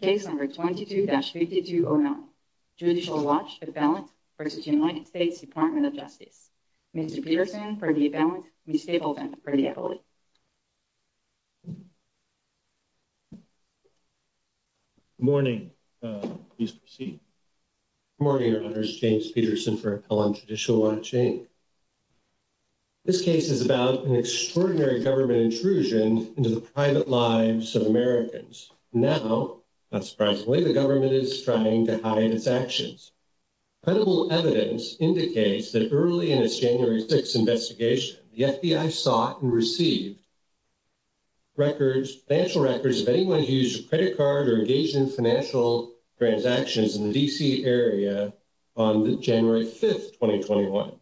Case number 22-5209, Judicial Watch, Appellant v. United States Department of Justice. Mr. Peterson for the Appellant, Ms. Capaldon for the Appellant. Good morning. Please proceed. Good morning, Your Honors. James Peterson for Appellant, Judicial Watch, Inc. This case is about an extraordinary government intrusion into the private lives of Americans. Now, not surprisingly, the government is trying to hide its actions. Credible evidence indicates that early in its January 6th investigation, the FBI sought and received financial records of anyone who used a credit card or engaged in financial transactions in the D.C. area on January 5th, 2021.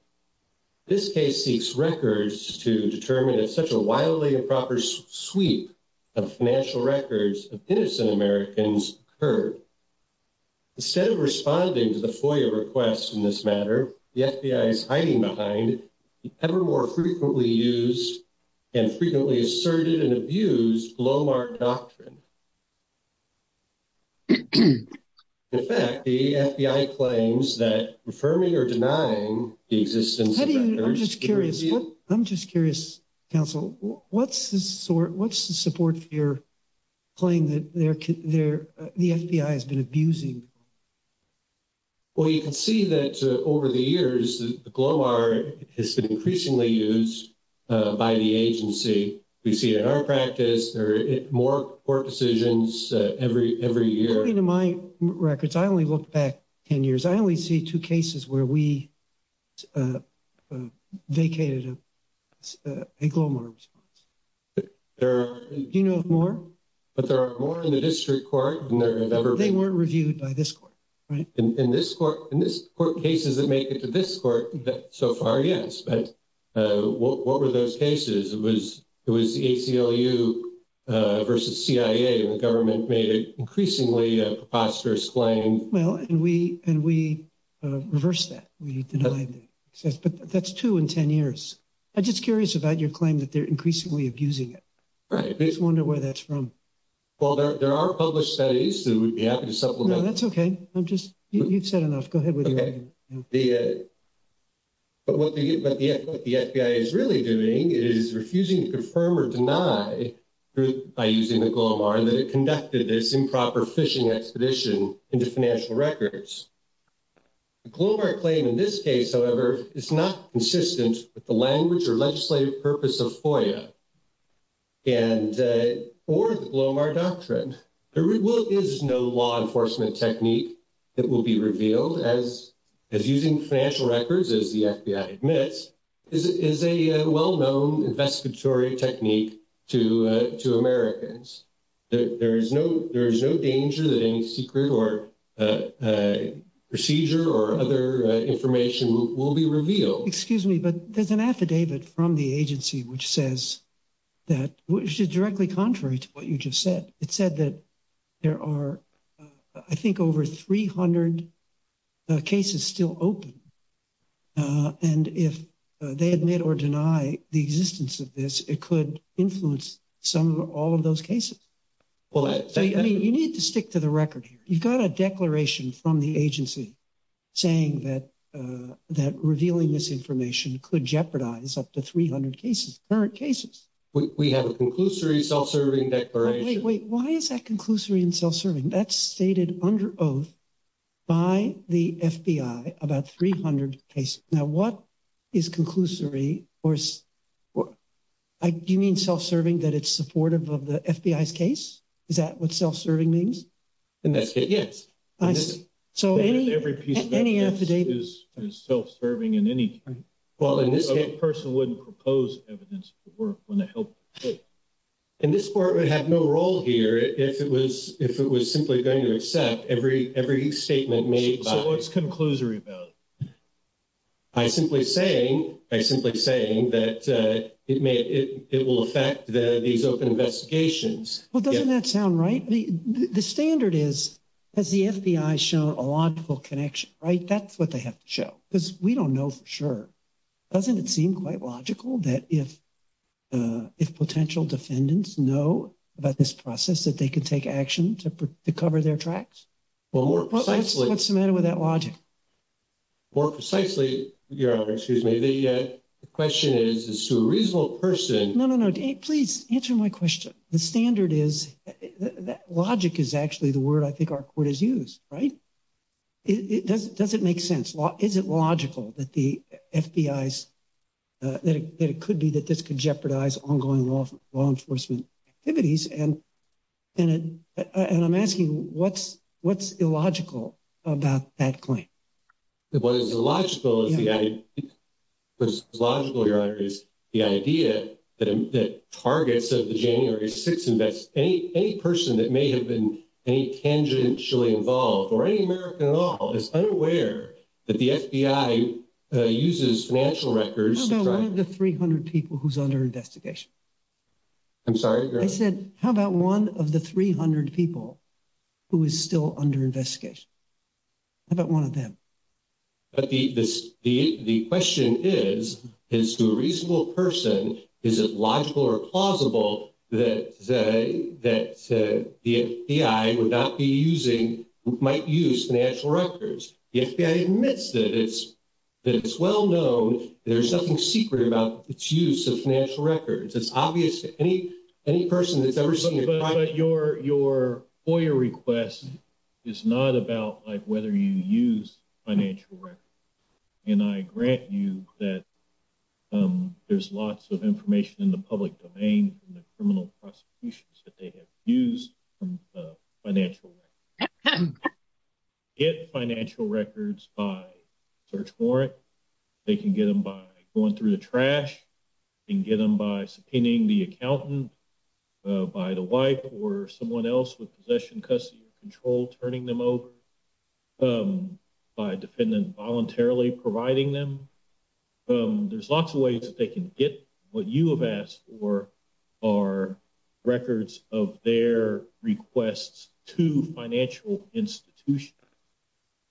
This case seeks records to determine if a wildly improper sweep of financial records of innocent Americans occurred. Instead of responding to the FOIA requests in this matter, the FBI is hiding behind the ever more frequently used and frequently asserted and abused blowmark doctrine. In fact, the FBI claims that affirming or denying the existence of records... I'm just curious, Counsel, what's the support for your claim that the FBI has been abusing? Well, you can see that over the years, the blowmark has been increasingly used by the agency. We see it in our practice. There are more court decisions every year. According to my records, I only looked back 10 years. I only see two cases where we vacated a blowmark response. Do you know of more? But there are more in the district court than there have ever been. They weren't reviewed by this court, right? In this court cases that make it to this court, so far, yes. But what were those cases? It was the ACLU versus CIA, and the government made it increasingly a preposterous claim. Well, and we reversed that. We denied that. But that's two in 10 years. I'm just curious about your claim that they're increasingly abusing it. I just wonder where that's from. Well, there are published studies that would be happy to supplement. No, that's okay. I'm just... You've said enough. Go ahead with your argument. Okay. But what the FBI is really doing is refusing to confirm or deny, by using the GLOMAR, that it conducted this improper phishing expedition into financial records. The GLOMAR claim in this case, however, is not consistent with the language or legislative purpose of FOIA or the GLOMAR doctrine. There is no law enforcement technique that will be revealed as using financial records, as the FBI admits, is a well-known investigatory technique to Americans. There is no danger that any secret or procedure or other information will be revealed. Excuse me, but there's an affidavit from the agency which says that... Which is directly contrary to what you just said. It said that there are, I think, over 300 cases still open. Uh, and if they admit or deny the existence of this, it could influence some or all of those cases. Well, I... I mean, you need to stick to the record here. You've got a declaration from the agency saying that, uh, that revealing this information could jeopardize up to 300 cases, current cases. We have a conclusory self-serving declaration. Wait, wait. Why is that conclusory and self-serving? That's stated under oath by the FBI, about 300 cases. Now, what is conclusory or... Do you mean self-serving that it's supportive of the FBI's case? Is that what self-serving means? In this case, yes. So any... Every piece of evidence is self-serving in any case. Well, in this case... A person wouldn't propose evidence to work when the help... And this court would have no role here if it was... If it was simply going to accept every... Every statement made by... So what's conclusory about it? By simply saying... By simply saying that, uh, it may... It... It will affect the... These open investigations. Well, doesn't that sound right? The... The standard is, has the FBI shown a logical connection, right? That's what they have to show. Because we don't know for sure. Doesn't it seem quite logical that if, uh, if potential defendants know about this process, that they could take action to... To cover their tracks? Well, more precisely... What's the matter with that logic? More precisely, Your Honor, excuse me, the, uh, the question is, is to a reasonable person... No, no, no. Please answer my question. The standard is... That logic is actually the word I think our court has used, right? It... It doesn't... Does it make sense? Is it logical that the FBI's, uh, that it could be that this could jeopardize ongoing law... Law enforcement activities? And... And... And I'm asking what's... What's illogical about that claim? What is illogical is the idea... What is illogical, Your Honor, is the idea that... That targets of the January 6th invest... Any... Any person that may have been any tangentially involved, or any American at all, is unaware that the FBI, uh, uses financial records... How about one of the 300 people who's under investigation? I'm sorry, Your Honor? I said, how about one of the 300 people who is still under investigation? How about one of them? But the... This... The... The question is, is to a reasonable person, is it logical or plausible that, uh, that, uh, the FBI would not be using... Might use financial records? The FBI admits that it's... That it's well known there's nothing secret about its use of financial records. It's obvious to any... Any person that's ever seen a private... But... But your... Your FOIA request is not about, like, whether you use financial records. And I grant you that, um, there's lots of information in the public domain from the criminal prosecutions that they have used from, uh, financial records. Get financial records by search warrant. They can get them by going through the trash. They can get them by subpoenaing the accountant, uh, by the wife, or someone else with possession, custody, or control turning them over, um, by a defendant voluntarily providing them. Um, there's lots of ways that they can get what you have asked for are records of their requests to financial institutions.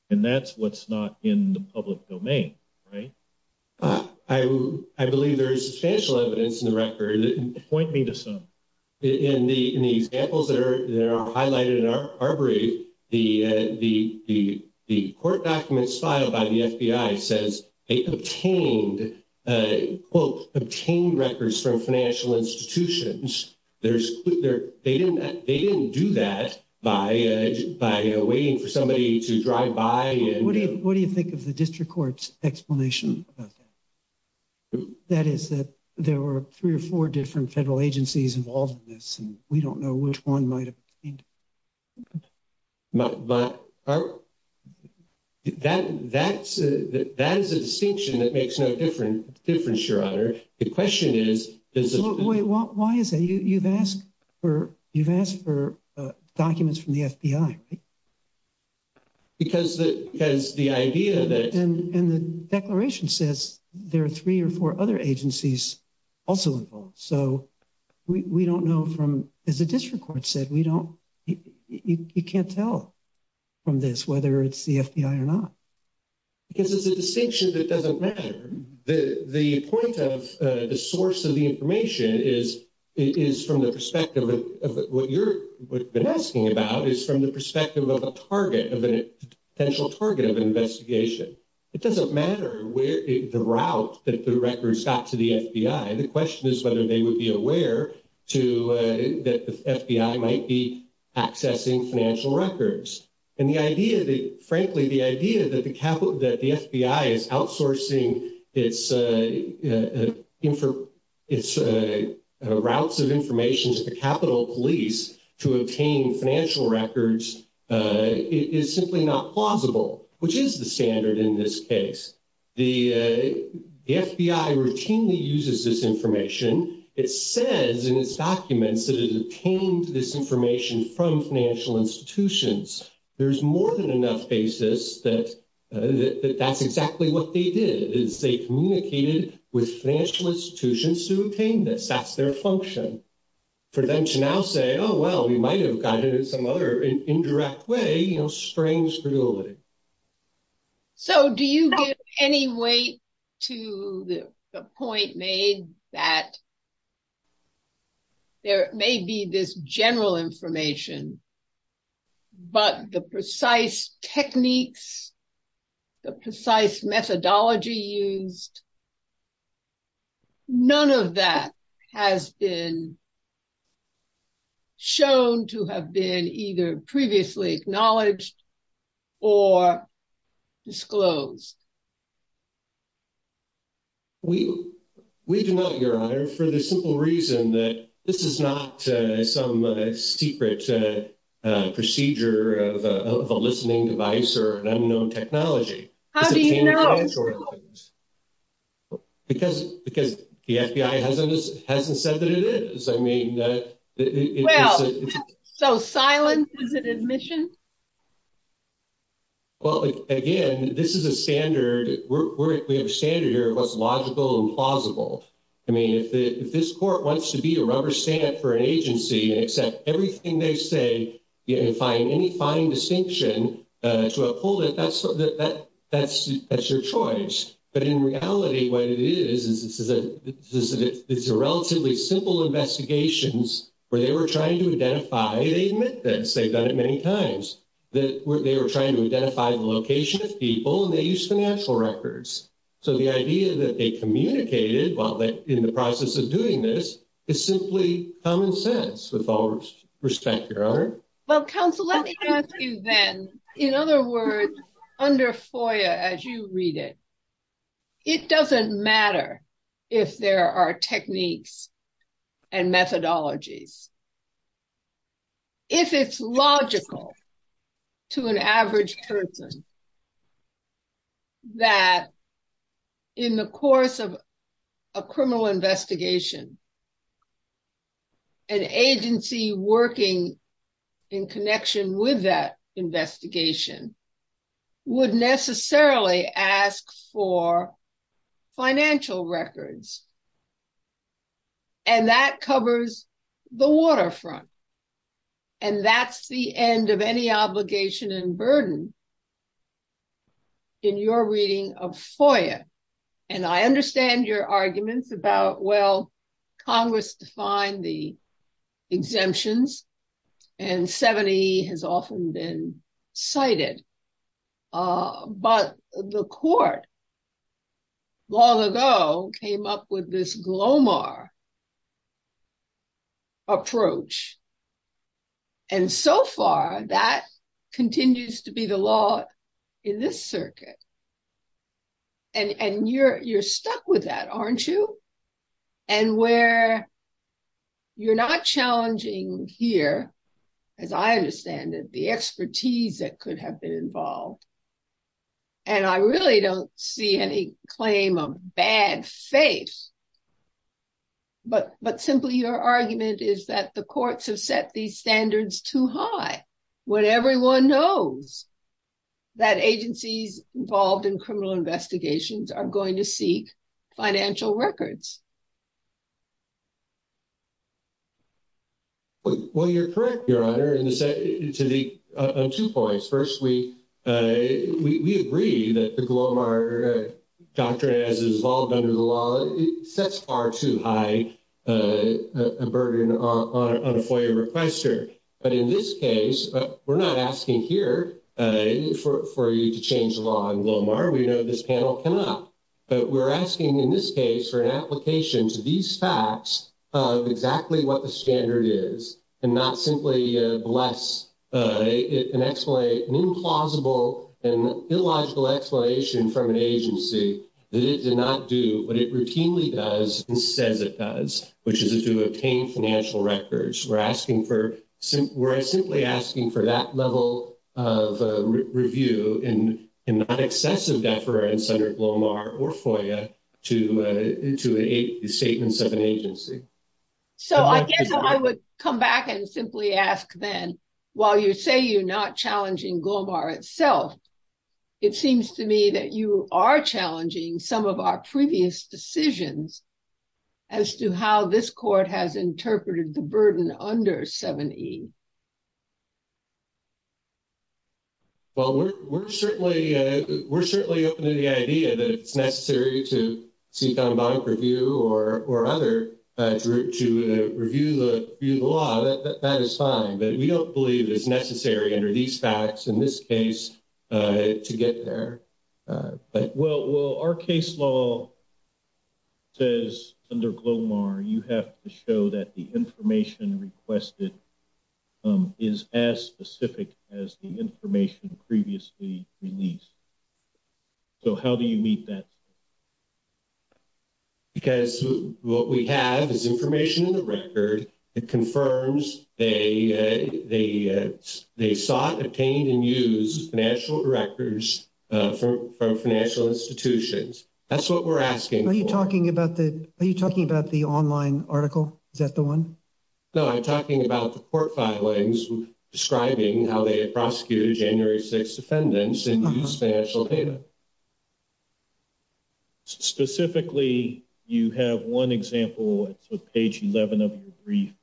And that's what's not in the public domain, right? Uh, I... I believe there is substantial evidence in the record... Point me to some. In the... In the examples that are... That are highlighted in our... Our brief, the, uh, the... The... The court documents filed by the FBI says they obtained, uh, quote, obtained records from financial institutions. There's... There... They didn't... They didn't do that by, uh, by waiting for somebody to drive by and... What do you... What do you think of the district court's explanation of that? That is that there were three or four different federal agencies involved in this, and we don't know which one might have... But... But... Are... That... That's... That is a distinction that makes no different... Difference, Your Honor. The question is... Wait, why is that? You... You've asked for... You've asked for, uh, documents from the FBI, right? Because the... Because the idea that... And... And the declaration says there are three or four other agencies also involved. So we... We don't know from... As the district court said, we don't... You... You... You can't tell from this whether it's the FBI or not. Because it's a distinction that doesn't matter. The... The point of, uh, the source of the information is... It is from the perspective of what you're... What you've been asking about is from the perspective of a target, of a potential target of an investigation. It doesn't matter where... The route that the records got to the FBI. The question is whether they would be aware to, uh, that the FBI might be accessing financial records. And the idea that... Frankly, the idea that the capital... That the FBI is outsourcing its, uh, uh, info... Its, uh, routes of information to the Capitol Police to obtain financial records, uh, is simply not plausible, which is the standard in this case. The, uh... The FBI routinely uses this information. It says in its documents that it obtained this information from financial institutions. There's more than enough basis that... That that's exactly what they did, is they communicated with financial institutions to obtain this. That's their function. For them to now say, oh, well, we might have gotten it in some other indirect way, you know, strange reality. So do you get any weight to the point made that there may be this general information, but the precise techniques, the precise methodology used... None of that has been shown to have been either previously acknowledged or disclosed? We... We do not, Your Honor, for the simple reason that this is not, uh, some, uh, secret, uh, uh, procedure of a... Of a listening device or an unknown technology. How do you know? Because... Because the FBI hasn't... Hasn't said that it is. I mean, uh... Well, so silence is an admission? Well, again, this is a standard. We're... We have a standard here of what's logical and plausible. I mean, if the... If this court wants to be a rubber stamp for an agency and accept everything they say and find any fine distinction, uh, to uphold it, that's... That's... That's your choice. But in reality, what it is, is it's a... It's a relatively simple investigations where they were trying to identify, they admit this, they've done it many times, that they were trying to identify the location of people and they used financial records. So the idea that they communicated while they're in the process of doing this is simply common sense with all respect, Your Honor. Well, counsel, let me ask you then, in other words, under FOIA, as you read it, it doesn't matter if there are techniques and methodologies. If it's logical to an average person that in the course of a criminal investigation, an agency working in connection with that financial records, and that covers the waterfront, and that's the end of any obligation and burden in your reading of FOIA. And I understand your arguments about, well, long ago came up with this Glomar approach. And so far that continues to be the law in this circuit. And you're stuck with that, aren't you? And where you're not challenging here, as I understand it, the expertise that could have been involved. And I really don't see any claim of bad faith, but simply your argument is that the courts have set these standards too high when everyone knows that agencies involved in criminal investigations are going to seek financial records. Well, you're correct, Your Honor, on two points. First, we agree that the Glomar doctrine as it's involved under the law, it sets far too high a burden on a FOIA requester. But in this case, we're not asking here for you to change the law on Glomar. We know this panel cannot. But we're asking in this case for an application to these facts of exactly what the standard is and not simply bless an implausible and illogical explanation from an agency that it did not do what it routinely does and says it does, which is to obtain financial records. We're simply asking for that level of review and not excessive deference under Glomar or FOIA to statements of an agency. So I guess I would come back and simply ask then, while you say you're not challenging Glomar itself, it seems to me that you are challenging some of our previous decisions as to how this under 7E. Well, we're certainly open to the idea that it's necessary to seek on a bank review or other to review the law. That is fine. But we don't believe it's necessary under these facts in this case to get there. Well, our case law says under Glomar you have to show that the information requested is as specific as the information previously released. So how do you meet that? Because what we have is information in the record that confirms they sought, obtained, and used financial records from financial institutions. That's what we're asking for. Are you talking about the online article? Is that the one? No, I'm talking about the court filings describing how they prosecuted January 6th defendants and used financial data. Specifically, you have one example. It's with page 11 of your brief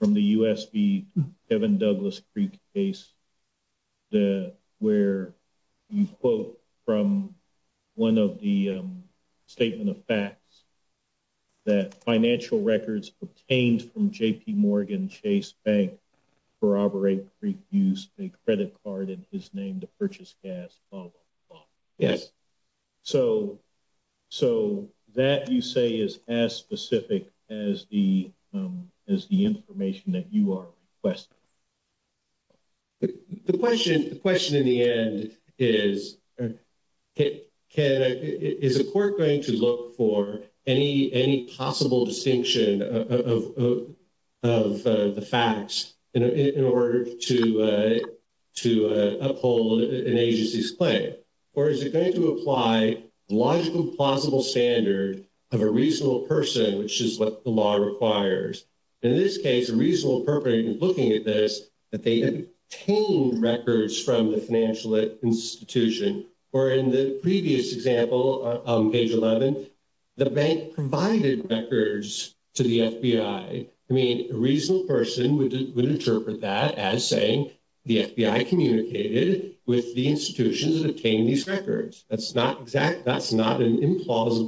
from the USP Kevin Douglas Creek case where you quote from one of the statement of facts that financial records obtained from JPMorgan Chase Bank corroborate Creek used a credit card in his name to purchase gas. Yes. So that you say is as specific as the information that you are requesting. But the question, the question in the end is, can, is a court going to look for any possible distinction of the facts in order to uphold an agency's claim? Or is it going to apply logical plausible standard of a reasonable person which is what the law requires? In this case, a reasonable perpetrator is looking at this that they obtained records from the financial institution, or in the previous example on page 11, the bank provided records to the FBI. I mean, a reasonable person would interpret that as saying the FBI communicated with the institutions that obtained these records. That's not exact. That's not an implausible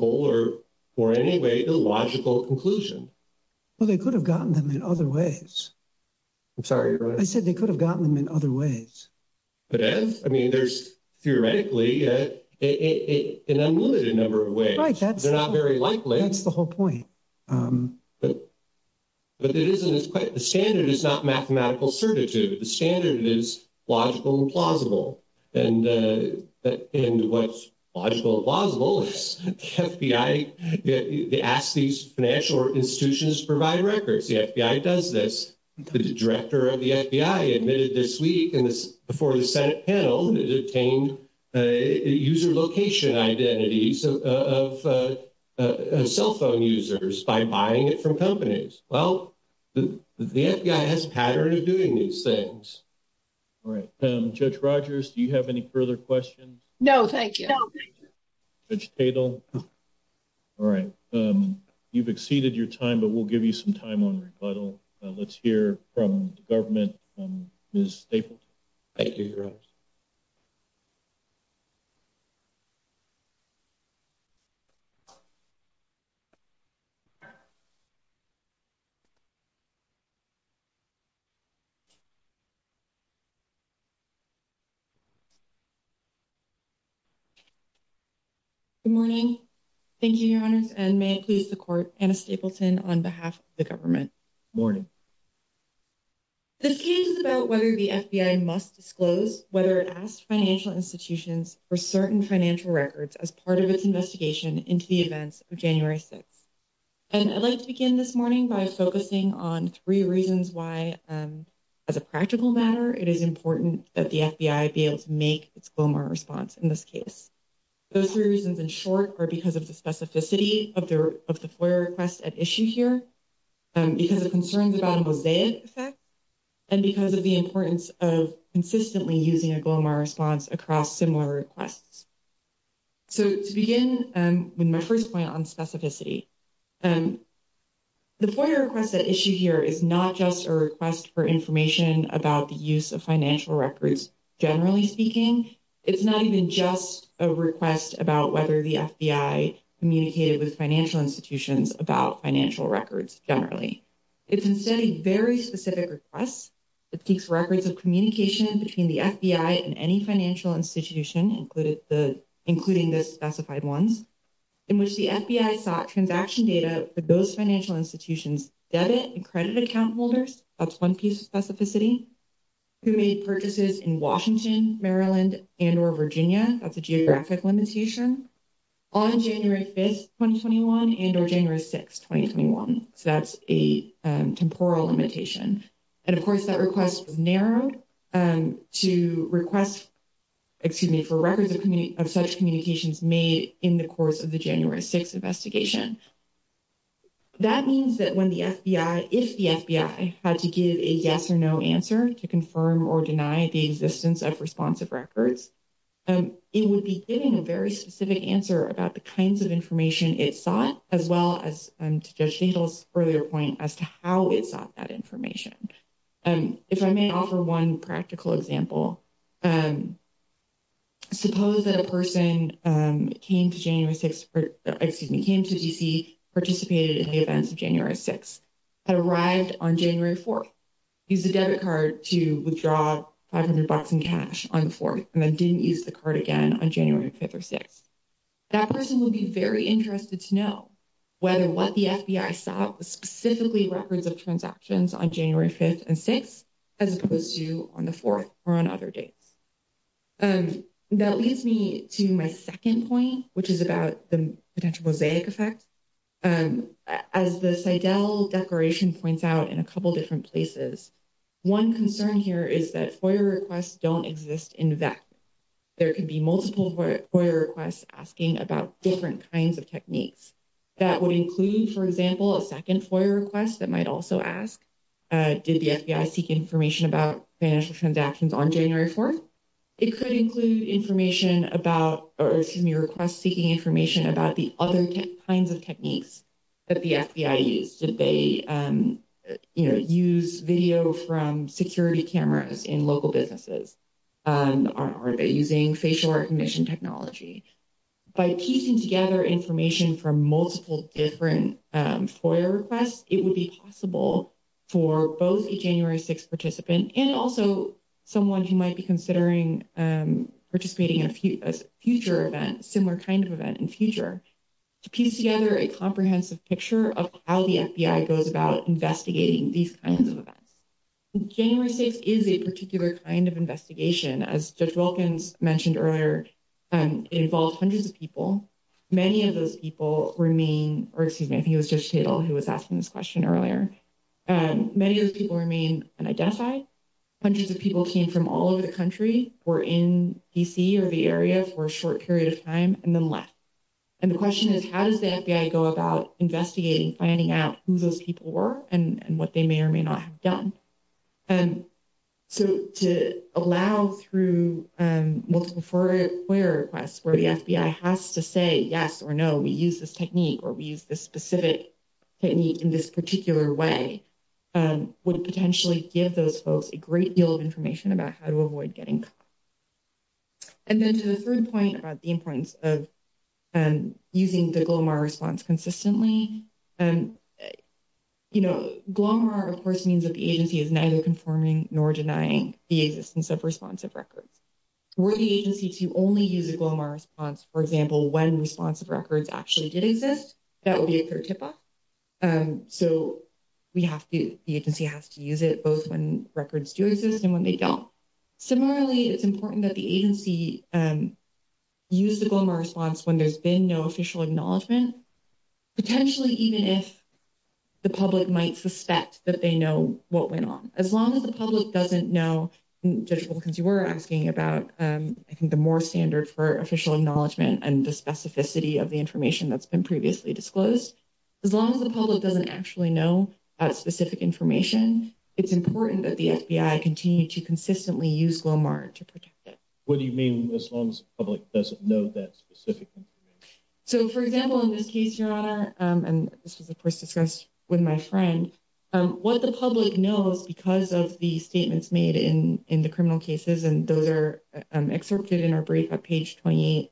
or for any way illogical conclusion. Well, they could have gotten them in other ways. I'm sorry. I said they could have gotten them in other ways. But as I mean, there's theoretically an unlimited number of ways. Right. They're not very likely. That's the whole point. But it isn't as quite the standard is not mathematical certitude. The standard is logical and plausible. And what's logical and plausible is the FBI, they ask these financial institutions to provide records. The FBI does this. The director of the FBI admitted this week and this before the Senate panel that it obtained user location identities of cell phone users by buying it from companies. Well, the FBI has a pattern of doing these things. Judge Rogers, do you have any further questions? No, thank you. Judge Tatel. All right. You've exceeded your time, but we'll give you some time on rebuttal. Let's hear from the government. Ms. Stapleton. Thank you, your honor. Good morning. Thank you, your honors. And may it please the court. Anna Stapleton on behalf of the government. Morning. This case is about whether the FBI must disclose whether it asked financial institutions for certain financial records as part of its investigation into the events of January 6th. And I'd like to begin this morning by focusing on three reasons why as a practical matter, it is important that the FBI be able to make its response in this case. Those three reasons in short are because of the specificity of the FOIA request at issue here, because of concerns about a mosaic effect, and because of the importance of consistently using a glomer response across similar requests. So to begin with my first point on specificity, the FOIA request at issue here is not just a request for information about the use of financial records, generally speaking. It's not even just a request about whether the FBI communicated with financial institutions about financial records generally. It's instead a very specific request that seeks records of communication between the FBI and any financial institution, including the specified ones, in which the FBI sought transaction data for those financial institutions' debit and credit account holders. That's one piece of specificity. Who made purchases in Washington, Maryland, and or Virginia. That's a geographic limitation. On January 5th, 2021 and or January 6th, 2021. So that's a temporal limitation. And of course that request was narrowed to request, excuse me, for records of such communications made in the course of the January 6th investigation. That means that when the FBI, if the FBI, had to give a yes or no answer to confirm or deny the existence of responsive records, it would be giving a very specific answer about the kinds of information it sought, as well as, to Judge Dayton's earlier point, as to how it sought that information. If I may offer one practical example, suppose that a person came to January 6th, or excuse me, came to D.C., participated in the events of January 6th, arrived on January 4th, used the debit card to withdraw 500 bucks in cash on the 4th, and then didn't use the card again on January 5th or 6th. That person would be very interested to know whether what the FBI sought was specifically records of transactions on January 5th and 6th, as opposed to on the 4th or on other dates. That leads me to my second point, which is about the potential mosaic effect. As the CIDEL declaration points out in a couple different places, one concern here is that FOIA requests don't exist in VEC. There could be multiple FOIA requests asking about different kinds of techniques. That would include, for example, a second FOIA request that might also ask, did the FBI seek information about financial transactions on January 4th? It could include information about, or excuse me, requests seeking information about the other kinds of techniques that the FBI used. Did they, you know, use video from security cameras in local businesses? Are they using facial recognition technology? By piecing together information from multiple different FOIA requests, it would be possible for both a January 6th participant and also someone who might be considering participating in a future event, similar kind of event in future, to piece together a comprehensive picture of how the FBI goes about investigating these kinds of investigations. As Judge Wilkins mentioned earlier, it involves hundreds of people. Many of those people remain, or excuse me, I think it was Judge Cidel who was asking this question earlier. Many of those people remain unidentified. Hundreds of people came from all over the country, were in D.C. or the area for a short period of time, and then left. And the question is, how does the FBI go about investigating, finding out who those people were and what they may or may not have done? So to allow through multiple FOIA requests where the FBI has to say yes or no, we use this technique or we use this specific technique in this particular way, would potentially give those folks a great deal of information about how to avoid getting caught. And then to the third point about the importance of using the GLOMAR response consistently, you know, GLOMAR of course means that the agency is neither conforming nor denying the existence of responsive records. Were the agency to only use a GLOMAR response, for example, when responsive records actually did exist, that would be a clear tip-off. So we have to, the agency has to use it both when records do exist and when they don't. Similarly, it's important that the agency use the GLOMAR response when there's been no official acknowledgement, potentially even if the public might suspect that they know what went on. As long as the public doesn't know, Judge Wilkins, you were asking about, I think, the more standard for official acknowledgement and the specificity of the information that's been previously disclosed. As long as the public doesn't actually know that specific information, it's important that the FBI continue to consistently use GLOMAR to protect it. What do you mean as long as the public doesn't know that specific information? So for example, in this case, your honor, and this was of course discussed with my friend, what the public knows because of the statements made in the criminal cases, and those are excerpted in our brief at page 28,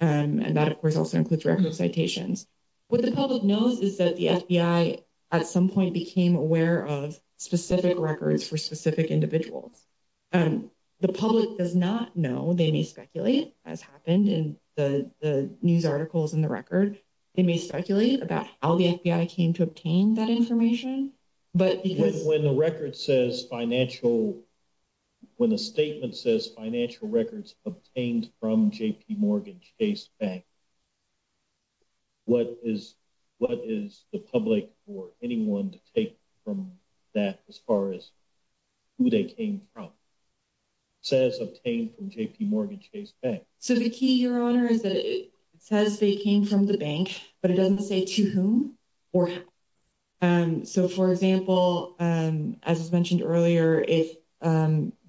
and that of course also includes record citations. What the public knows is that the FBI at some point became aware of specific records for specific individuals. The public does not know, they may speculate, as happened in the news articles in the record, they may speculate about how the FBI came to obtain that information. But when the record says financial, when the statement says financial records obtained from what is the public or anyone to take from that as far as who they came from, says obtained from JPMorgan Chase Bank. So the key, your honor, is that it says they came from the bank, but it doesn't say to whom or how. So for example, as was mentioned earlier, if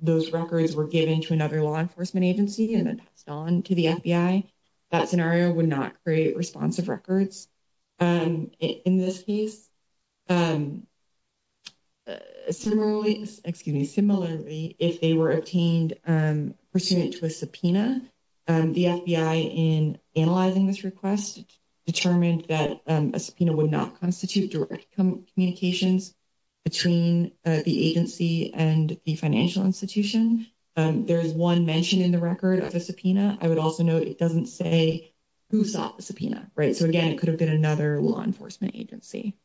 those records were given to another law enforcement agency and then passed on to the FBI, that scenario would not create responsive records in this case. Similarly, excuse me, similarly, if they were obtained pursuant to a subpoena, the FBI in analyzing this request determined that a subpoena would not constitute direct communications between the agency and the financial institution. There's one mention in the record of a subpoena. I would also note it doesn't say who sought the subpoena, right? So again, it could have been another law enforcement agency.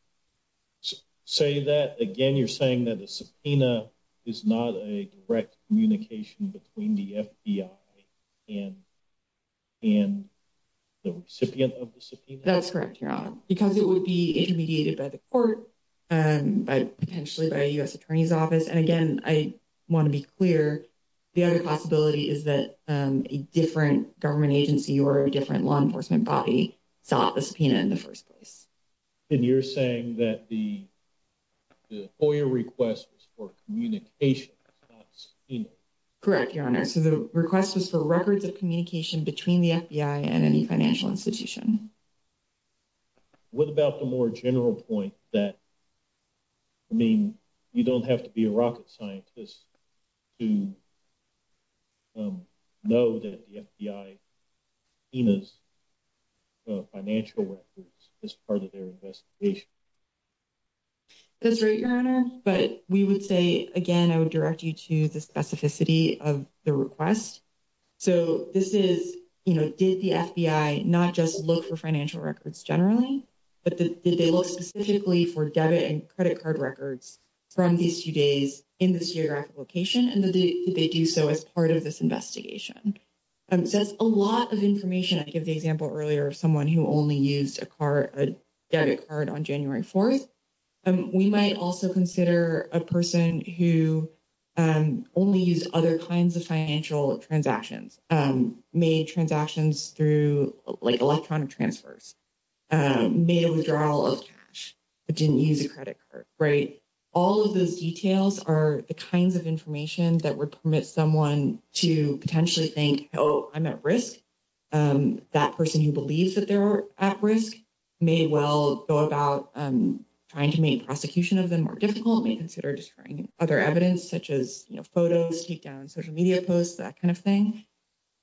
Say that again, you're saying that the subpoena is not a direct communication between the FBI and the recipient of the subpoena? That's correct, your honor, because it would be intermediated by the court, potentially by a U.S. attorney's office. And again, I want to be clear, the other possibility is that a different government agency or a different law enforcement body sought the subpoena in the first place. And you're saying that the FOIA request was for communications, not a subpoena? Correct, your honor. So the request was for records of communication between the FBI and any financial institution. What about the more general point that, I mean, you don't have to be a rocket scientist to know that the FBI seen as financial records as part of their investigation? That's right, your honor, but we would say again, I would direct you to the specificity of the request. So this is, you know, did the FBI not just look for financial records generally, but did they look specifically for debit and credit card records from these two days in this geographic location, and did they do so as part of this investigation? So that's a lot of information. I gave the example earlier of someone who only used a debit card on January 4th. We might also consider a person who only used other kinds of financial transactions, made transactions through like electronic transfers, made a withdrawal of cash, but didn't use a credit card, right? All of those details are the kinds of information that would permit someone to potentially think, oh, I'm at risk. That person who believes that they're at risk may well go about trying to make prosecution of them more difficult, may consider destroying other evidence such as, you know, photos, take down social media posts, that kind of thing.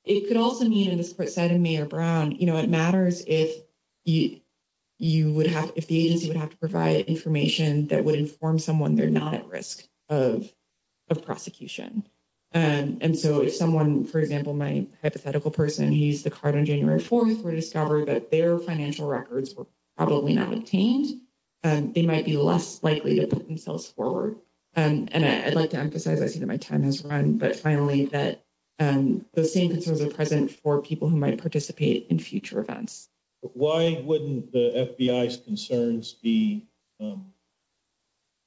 It could also mean, as the court said in Mayer-Brown, you know, it matters if the agency would have to provide information that would inform someone they're not at risk of prosecution. And so if someone, for example, my hypothetical person who used the card on January 4th were to discover that their financial records were probably not obtained, they might be less likely to put themselves forward. And I'd like to emphasize, I see that my time has run, but finally that those same concerns are present for people who might participate in future events. Why wouldn't the FBI's concerns be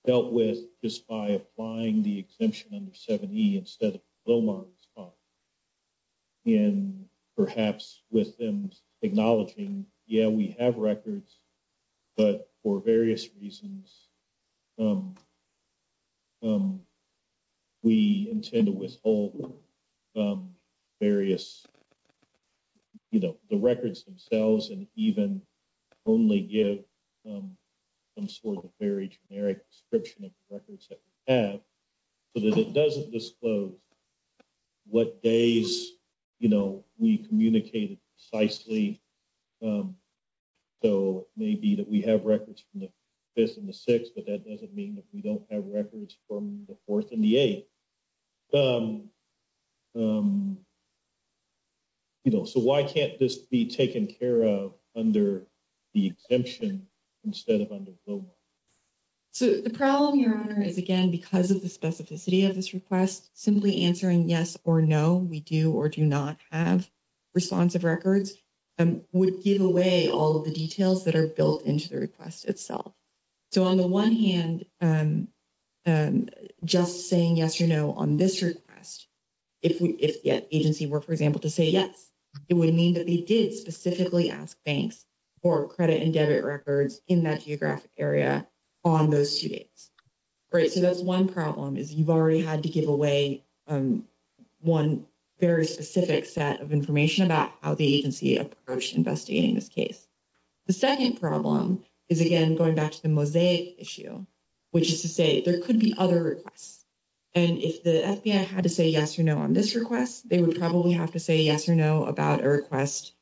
dealt with just by applying the exemption under 7E instead of Lomar's and perhaps with them acknowledging, yeah, we have records, but for various reasons we intend to withhold various, you know, the records themselves and even only give some sort of very generic description of the records that we have so that it doesn't disclose what days, you know, we communicated precisely. So maybe that we have records from the 6th, but that doesn't mean that we don't have records from the 4th and the 8th. You know, so why can't this be taken care of under the exemption instead of under Lomar? So the problem, Your Honor, is again, because of the specificity of this request, simply answering yes or no, we do or do not have responsive records would give away all the details that are built into the request itself. So on the one hand, just saying yes or no on this request, if the agency were, for example, to say yes, it would mean that they did specifically ask banks for credit and debit records in that geographic area on those two days. Right, so that's one problem is you've already had to give away one very specific set of records. The second problem is, again, going back to the Mosaic issue, which is to say there could be other requests. And if the FBI had to say yes or no on this request, they would probably have to say yes or no about a request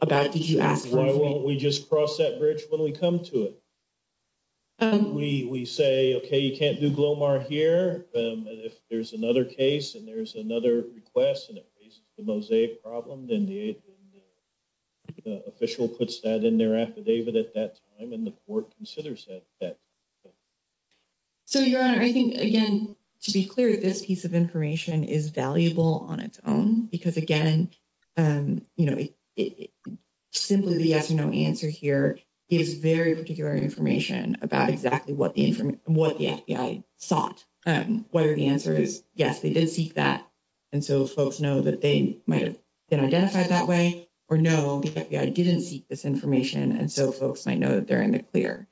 about did you ask? Why won't we just cross that bridge when we come to it? We say, okay, you can't do Glomar here. If there's another case and there's another request and it raises the Mosaic problem, then the official puts that in their affidavit at that time and the court considers that. So, Your Honor, I think, again, to be clear, this piece of information is valuable on its own because, again, you know, simply the yes or no answer here gives very particular information about exactly what the FBI sought. Whether the answer is yes, they did seek that, and so folks know that they might have been identified that way, or no, the FBI didn't seek this information, and so folks might know that they're in the clear.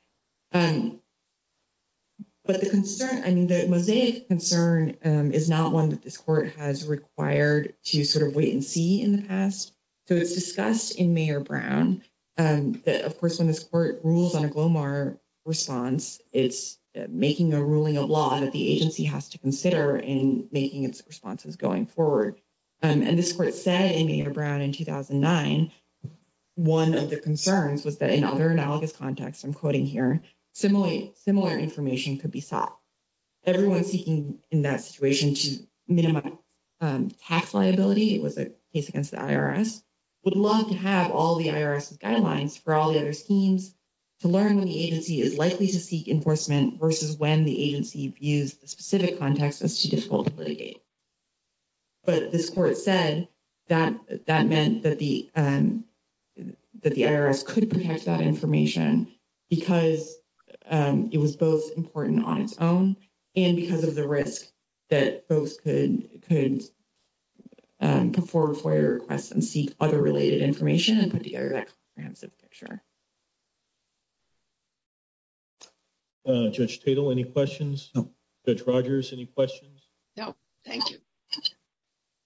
But the concern, I mean, the Mosaic concern is not one that this court has required to sort of wait and see in the past. So, it's discussed in Mayor Brown that, of course, when this court rules on a Glomar response, it's making a ruling of law that the agency has to consider in making its responses going forward. And this court said in Mayor Brown in 2009, one of the concerns was that in other analogous contexts, I'm quoting here, similar information could be sought. Everyone seeking in that situation to minimize tax liability, it was a case against the IRS, would love to have all the IRS guidelines for all the other schemes to learn when the agency is likely to seek enforcement versus when the agency views the specific context as too difficult to litigate. But this court said that that meant that the IRS could protect that information because it was both important on its own and because of the risk that folks could perform FOIA requests and seek other related information with the IRS. Judge Tatel, any questions? No. Judge Rogers, any questions? No. Thank you.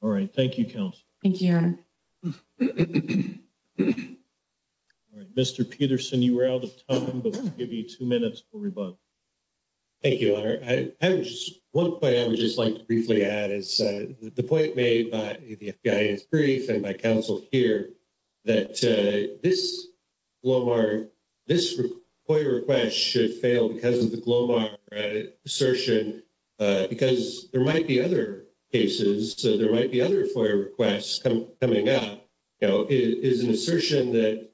All right. Thank you, counsel. Thank you, Your Honor. All right. Mr. Peterson, you were out of time, but we'll give you two minutes for rebuttal. Thank you, Your Honor. One point I would just like to briefly add is the point made by the FBI brief and by counsel here, that this FOIA request should fail because of the Glomar assertion, because there might be other cases, so there might be other FOIA requests coming up, you know, is an assertion that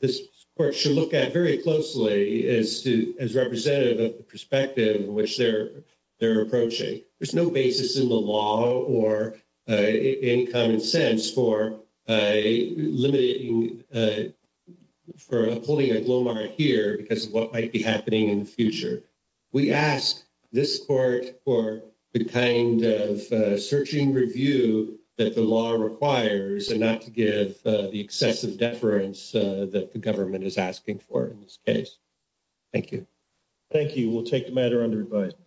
this court should look at very closely as representative of the for a limiting, for upholding a Glomar here because of what might be happening in the future. We ask this court for the kind of searching review that the law requires and not to give the excessive deference that the government is asking for in this case. Thank you. Thank you. We'll take the matter under advisement.